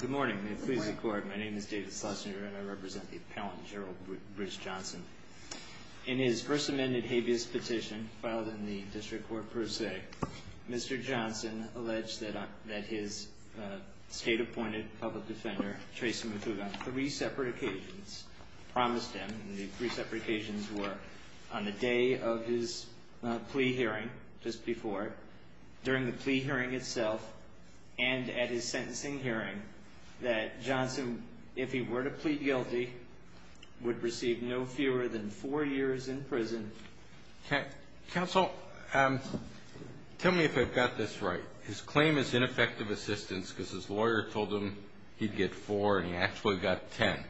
Good morning. May it please the court, my name is David Schlesinger and I represent the appellant, Gerald Bridge Johnson. In his first amended habeas petition, filed in the district court per se, Mr. Johnson alleged that his state-appointed public defender, Trey Simucuga, on three separate occasions promised him, and the three separate occasions were on the day of his plea hearing, just before, during the plea hearing itself, and at his sentencing hearing, that Johnson, if he were to plead guilty, would receive no fewer than four years in prison. Counsel, tell me if I've got this right. His claim is ineffective assistance because his lawyer told him he'd get four and he actually got ten.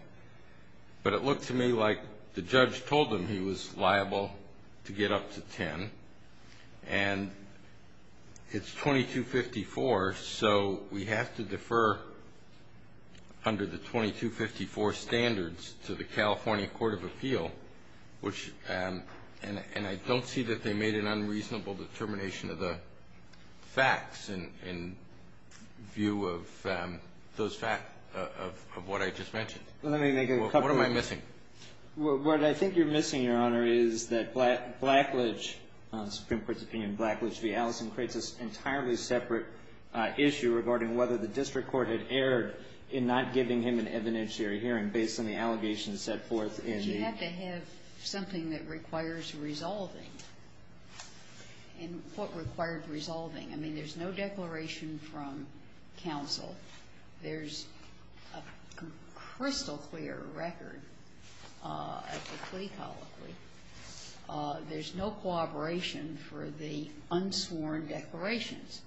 But it looked to me like the judge told him he was liable to get up to ten and it's 2254, so we have to defer under the 2254 standards to the California Court of Appeal, which, and I don't see that they made an unreasonable determination of the facts in view of those facts, of what I just mentioned. Let me make a couple of points. What am I missing? What I think you're missing, Your Honor, is that Blackledge, Supreme Court's opinion, Blackledge v. Allison, creates this entirely separate issue regarding whether the district court had erred in not giving him an evidentiary hearing based on the allegations set forth in the ---- But you have to have something that requires resolving. And what requires resolving? I mean, there's no declaration from counsel. There's a crystal clear record of the plea and the unsworn declarations.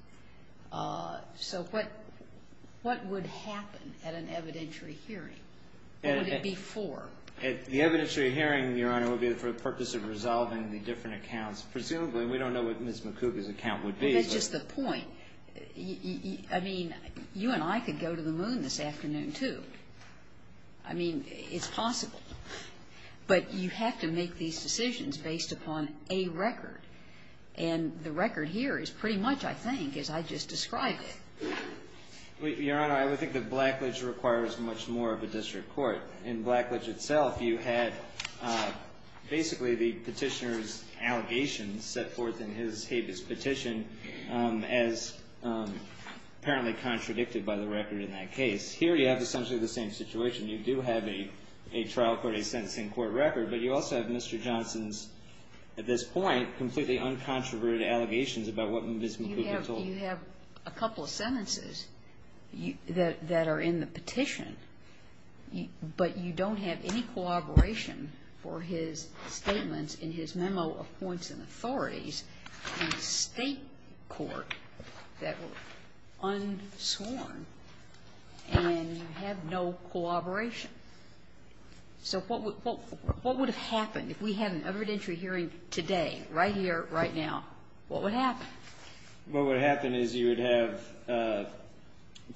So what would happen at an evidentiary hearing? What would it be for? The evidentiary hearing, Your Honor, would be for the purpose of resolving the different accounts. Presumably, we don't know what Ms. McCougar's account would be. Well, that's just the point. I mean, you and I could go to the moon this afternoon, too. I mean, it's possible. But you have to make these decisions based upon a record. And the record here is pretty much, I think, as I just described it. Your Honor, I would think that Blackledge requires much more of a district court. In Blackledge itself, you had basically the petitioner's allegations set forth in his habeas petition as apparently contradicted by the record in that case. Here, you have essentially the same situation. You do have a trial court, a sentencing court record. But you also have Mr. Johnson's, at this point, completely uncontroverted allegations about what Ms. McCougar told him. You have a couple of sentences that are in the petition, but you don't have any collaboration for his statements in his memo of points and authorities in the State court that were sworn, and you have no collaboration. So what would have happened if we had an evidentiary hearing today, right here, right now? What would happen? Well, what would happen is you would have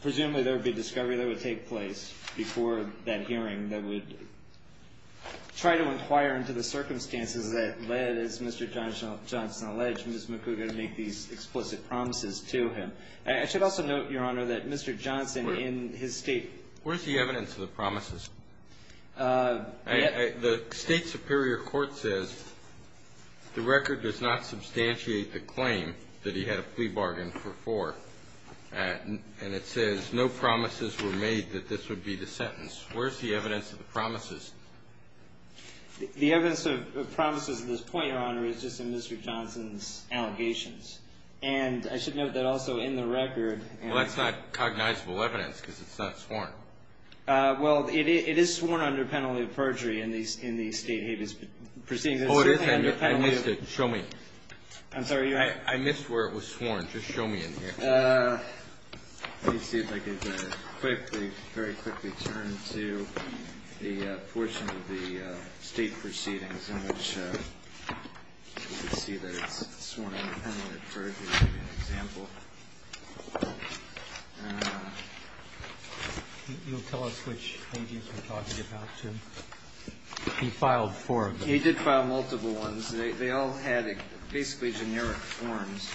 presumably there would be a discovery that would take place before that hearing that would try to inquire into the circumstances that led, as Mr. Johnson alleged, Ms. McCougar to make these explicit promises to him. I should also note, Your Honor, that Mr. Johnson in his State ---- Where's the evidence of the promises? The State superior court says the record does not substantiate the claim that he had a plea bargain for four. And it says no promises were made that this would be the sentence. Where's the evidence of the promises? The evidence of promises at this point, Your Honor, is just in Mr. Johnson's allegations. And I should note that also in the record ---- Well, that's not cognizable evidence because it's not sworn. Well, it is sworn under penalty of perjury in the State habeas proceeding. Oh, it is? I missed it. Show me. I'm sorry, Your Honor. I missed where it was sworn. Just show me in here. Let me see if I can very quickly turn to the portion of the State proceedings in which you can see that it's sworn under penalty of perjury. I'll give you an example. You'll tell us which habeas we're talking about, too. He filed four of them. He did file multiple ones. They all had basically generic forms,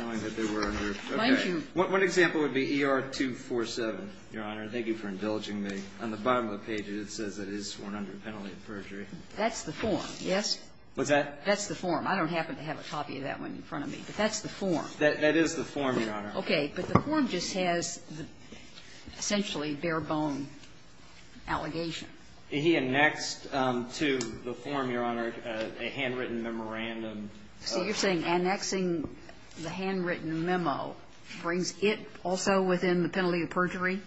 knowing that they were under ---- Thank you. Okay. One example would be ER-247, Your Honor. Thank you for indulging me. On the bottom of the page, it says it is sworn under penalty of perjury. That's the form, yes? What's that? That's the form. I don't happen to have a copy of that one in front of me. But that's the form. That is the form, Your Honor. Okay. But the form just has essentially bare-bone allegation. He annexed to the form, Your Honor, a handwritten memorandum. So you're saying annexing the handwritten memo brings it also within the penalty of perjury?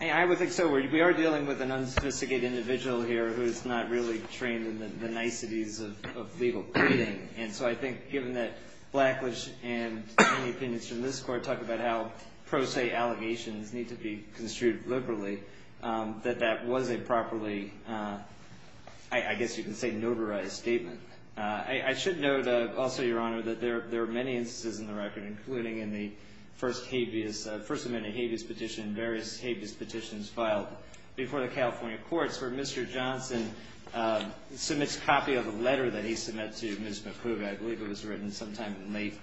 I would think so. We are dealing with an unsophisticated individual here who is not really trained in the niceties of legal pleading. And so I think given that Blackledge and any opinions from this Court talk about how pro se allegations need to be construed liberally, that that was a properly, I guess you could say, notarized statement. I should note also, Your Honor, that there are many instances in the record, including in the first habeas, First Amendment habeas petition, various habeas petitions filed before the California courts where Mr. Johnson submits a copy of a letter that he submits to Ms. McHoover. I believe it was written sometime in late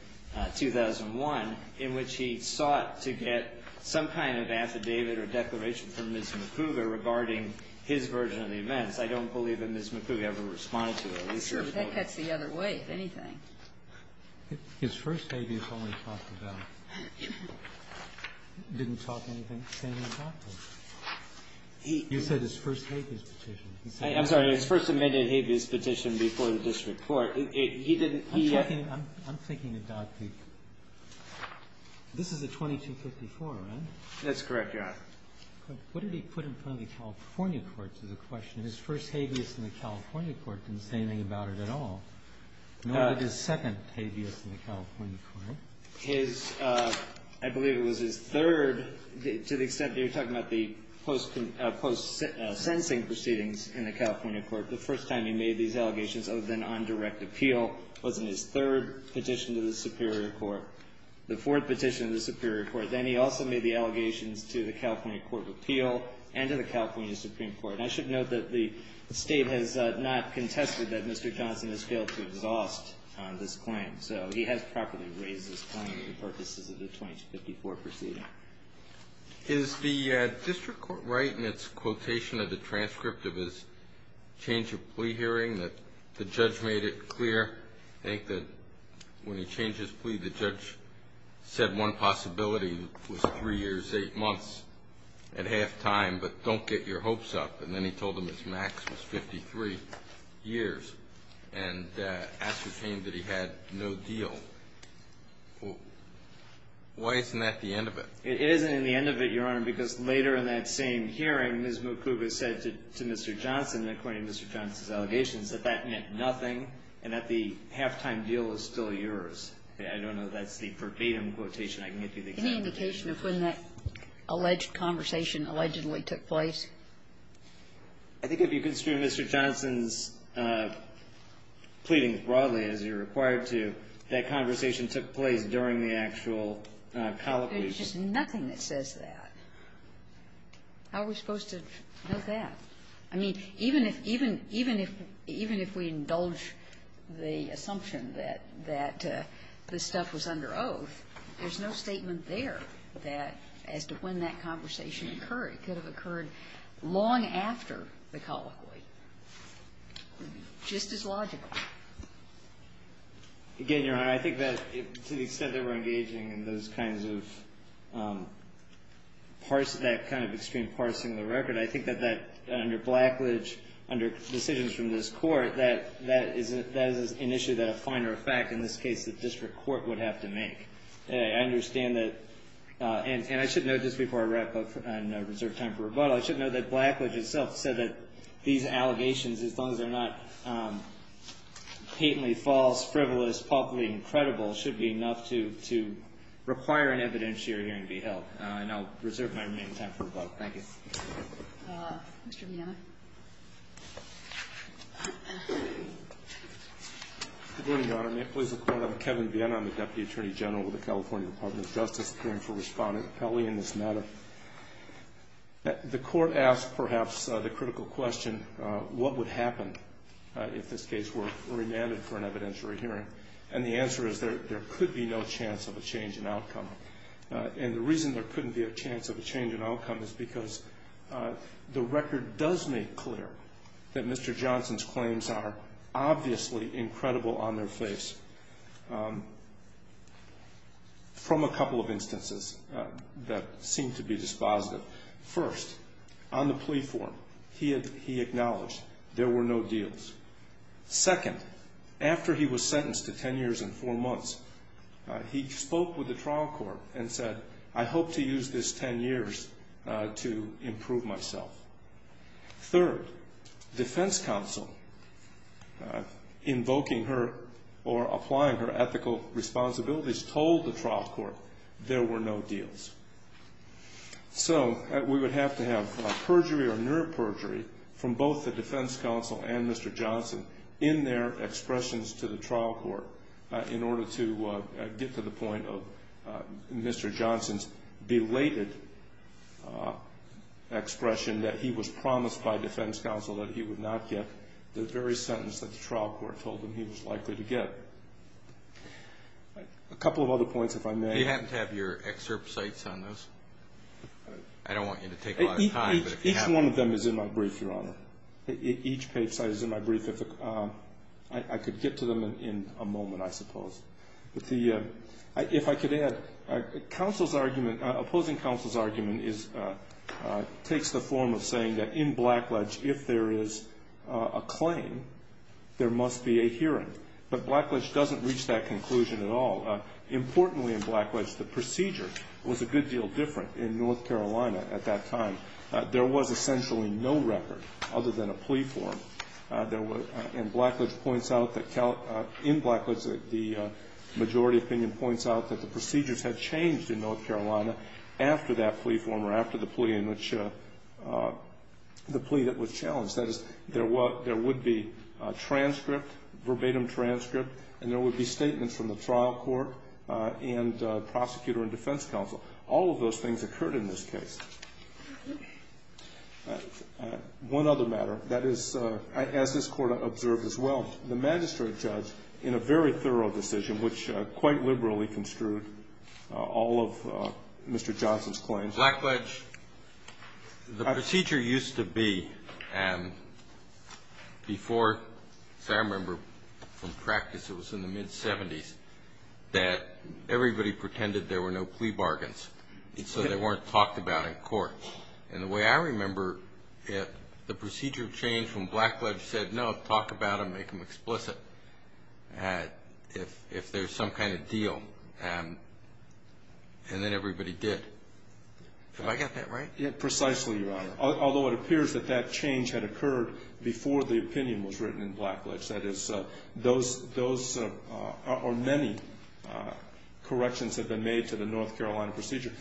2001 in which he sought to get some kind of affidavit or declaration from Ms. McHoover regarding his version of the events. I don't believe that Ms. McHoover ever responded to it. That cuts the other way, if anything. His first habeas only talked about didn't talk anything, say anything about it. He said his first habeas petition. He said it. I'm sorry. His First Amendment habeas petition before the district court. He didn't, he. I'm thinking about the, this is a 2254, right? That's correct, Your Honor. What did he put in front of the California courts is the question. His first habeas in the California court didn't say anything about it at all. Nor did his second habeas in the California court. His, I believe it was his third. To the extent that you're talking about the post-sentencing proceedings in the California court, the first time he made these allegations other than on direct appeal was in his third petition to the Superior Court. The fourth petition to the Superior Court. Then he also made the allegations to the California court of appeal and to the California Supreme Court. And I should note that the State has not contested that Mr. Johnson has failed to exhaust this claim. So he has properly raised this claim for the purposes of the 2254 proceeding. Is the district court right in its quotation of the transcript of his change of plea hearing that the judge made it clear, I think that when he changed his plea, the judge said one possibility was three years, eight months at half time, but don't get your guesswork wrong. And then he told them his max was 53 years and ascertained that he had no deal. Why isn't that the end of it? It isn't in the end of it, Your Honor, because later in that same hearing, Ms. Mukuba said to Mr. Johnson, according to Mr. Johnson's allegations, that that meant nothing and that the half-time deal was still yours. I don't know if that's the verbatim quotation I can give you. Any indication of when that alleged conversation allegedly took place? I think if you consider Mr. Johnson's pleadings broadly, as you're required to, that conversation took place during the actual colloquy. There's just nothing that says that. How are we supposed to know that? I mean, even if we indulge the assumption that this stuff was under oath, there's no statement there that as to when that conversation occurred. It could have occurred long after the colloquy, just as logically. Again, Your Honor, I think that to the extent that we're engaging in those kinds of parts of that kind of extreme parsing of the record, I think that that, under blackledge, under decisions from this Court, that is an issue that a finer fact in this case the district court would have to make. I understand that. And I should note, just before I wrap up and reserve time for rebuttal, I should note that blackledge itself said that these allegations, as long as they're not patently false, frivolous, palpably incredible, should be enough to require an evidentiary hearing to be held. And I'll reserve my remaining time for rebuttal. Thank you. Mr. Viena? Good morning, Your Honor. Nick Blizzard, Court. I'm Kevin Viena. I'm the Deputy Attorney General with the California Department of Justice, appearing for Respondent Kelly in this matter. The Court asked, perhaps, the critical question, what would happen if this case were remanded for an evidentiary hearing? And the answer is there could be no chance of a change in outcome. And the reason there couldn't be a chance of a change in outcome is because the record does make clear that Mr. Johnson's claims are obviously incredible on their face from a couple of instances that seem to be dispositive. First, on the plea form, he acknowledged there were no deals. Second, after he was sentenced to ten years and four months, he spoke with the trial court and said, I hope to use this ten years to improve myself. Third, defense counsel, invoking her or applying her ethical responsibilities, told the trial court there were no deals. So we would have to have perjury or near perjury from both the defense counsel and Mr. Johnson to the trial court in order to get to the point of Mr. Johnson's belated expression that he was promised by defense counsel that he would not get the very sentence that the trial court told him he was likely to get. A couple of other points, if I may. You happen to have your excerpt sites on this? I don't want you to take a lot of time, but if you have them. Each one of them is in my brief, Your Honor. Each page site is in my brief. I could get to them in a moment, I suppose. If I could add, opposing counsel's argument takes the form of saying that in Blackledge, if there is a claim, there must be a hearing. But Blackledge doesn't reach that conclusion at all. Importantly in Blackledge, the procedure was a good deal different in North Carolina at that time. There was essentially no record other than a plea form. And Blackledge points out that in Blackledge, the majority opinion points out that the procedures had changed in North Carolina after that plea form or after the plea in which the plea that was challenged. That is, there would be a transcript, verbatim transcript, and there would be statements from the trial court and prosecutor and defense counsel. All of those things occurred in this case. One other matter. That is, as this Court observed as well, the magistrate judge in a very thorough decision, which quite liberally construed all of Mr. Johnson's claims. Blackledge, the procedure used to be, before, as I remember from practice, it was in the mid-70s, that everybody pretended there were no plea bargains. So they weren't talked about in court. And the way I remember it, the procedure changed when Blackledge said, no, talk about them, make them explicit, if there's some kind of deal. And then everybody did. Have I got that right? Precisely, Your Honor. Although it appears that that change had occurred before the opinion was written in Blackledge. That is, those are many corrections that have been made to the North Carolina procedure.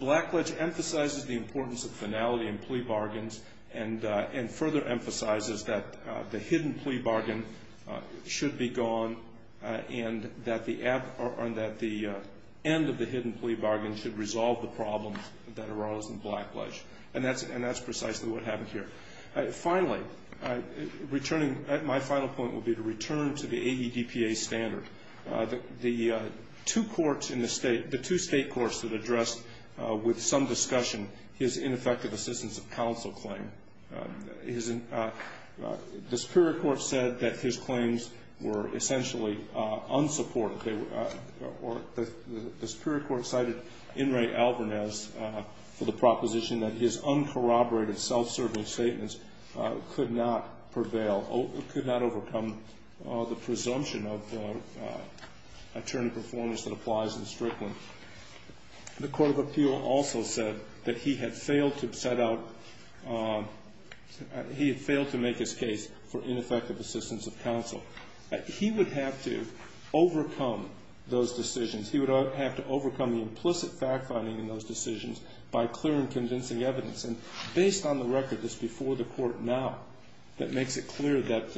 Blackledge emphasizes the importance of finality in plea bargains and further emphasizes that the hidden plea bargain should be gone and that the end of the hidden plea bargain should resolve the problems that arose in Blackledge. And that's precisely what happened here. Finally, returning, my final point would be to return to the AEDPA standard. The two courts in the state, the two state courts that addressed, with some discussion, his ineffective assistance of counsel claim. The Superior Court said that his claims were essentially unsupported. The Superior Court cited In re Alvarez for the proposition that his uncorroborated self-serving statements could not prevail, could not overcome the presumption of attorney performance that applies in Strickland. The Court of Appeal also said that he had failed to set out, he had failed to make his case for ineffective assistance of counsel. He would have to overcome those decisions. He would have to overcome the implicit fact-finding in those decisions by clear and convincing evidence. And based on the record that's before the Court now, that makes it clear that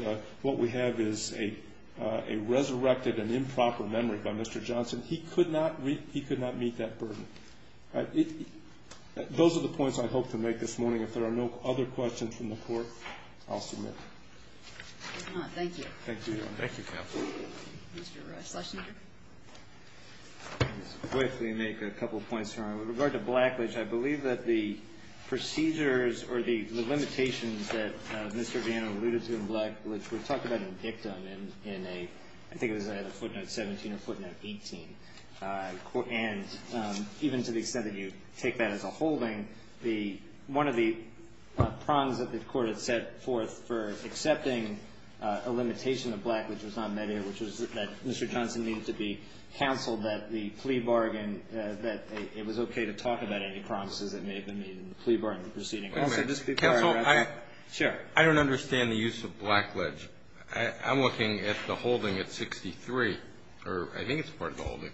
what we have is a resurrected and improper memory by Mr. Johnson. He could not meet that burden. Those are the points I hope to make this morning. If there are no other questions from the Court, I'll submit. Thank you. Thank you, Your Honor. Thank you, counsel. Mr. Schlesinger. I'll just quickly make a couple of points, Your Honor. With regard to Blackledge, I believe that the procedures or the limitations that Mr. Viano alluded to in Blackledge, we're talking about an victim in a, I think it was a footnote 17 or footnote 18. And even to the extent that you take that as a holding, the, one of the prongs that the Court had set forth for accepting a limitation of Blackledge was not met here, which was that Mr. Johnson needed to be counseled that the plea bargain, that it was okay to talk about any promises that may have been made in the plea bargain proceeding. Counsel, I don't understand the use of Blackledge. I'm looking at the holding at 63, or I think it's part of the holding,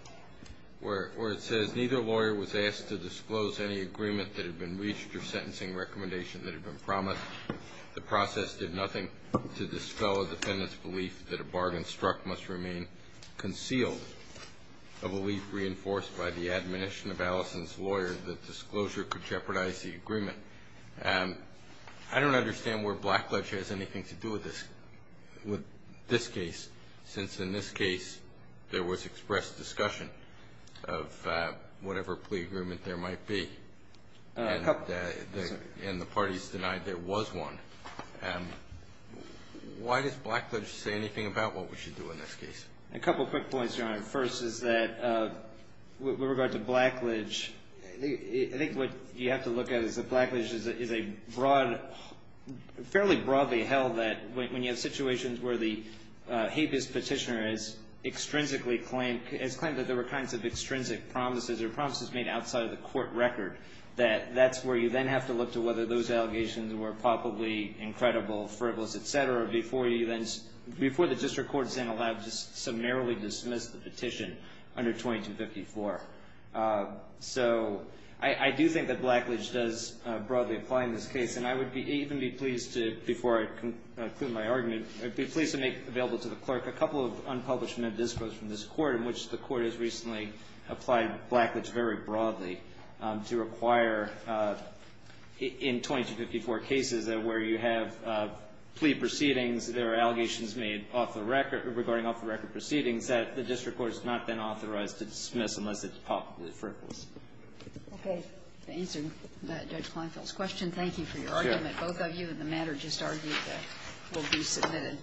where it says neither lawyer was asked to disclose any agreement that had been reached or sentencing recommendation that had been promised. The process did nothing to dispel a defendant's belief that a bargain struck must remain concealed, a belief reinforced by the admonition of Allison's lawyer that disclosure could jeopardize the agreement. I don't understand where Blackledge has anything to do with this, with this case, since in this case there was expressed discussion of whatever plea agreement there might be. And the parties denied there was one. Why does Blackledge say anything about what we should do in this case? A couple quick points, Your Honor. First is that with regard to Blackledge, I think what you have to look at is that Blackledge is a broad, fairly broadly held that when you have situations where the habeas petitioner has extrinsically claimed, has claimed that there were kinds of extrinsic promises or promises made outside of the court record, that that's where you then have to look to whether those allegations were probably incredible, frivolous, et cetera, before you then, before the district court is then allowed to narrowly dismiss the petition under 2254. So I do think that Blackledge does broadly apply in this case. And I would even be pleased to, before I conclude my argument, I'd be pleased to make available to the clerk a couple of unpublished minidiscos from this court in which the court has recently applied Blackledge very broadly to require in 2254 cases where you have plea proceedings, there are allegations made off the record regarding off-the-record proceedings that the district court has not been authorized to dismiss unless it's frivolous. Okay. To answer Judge Kleinfeld's question, thank you for your argument. Sure. Both of you in the matter just argued that will be submitted.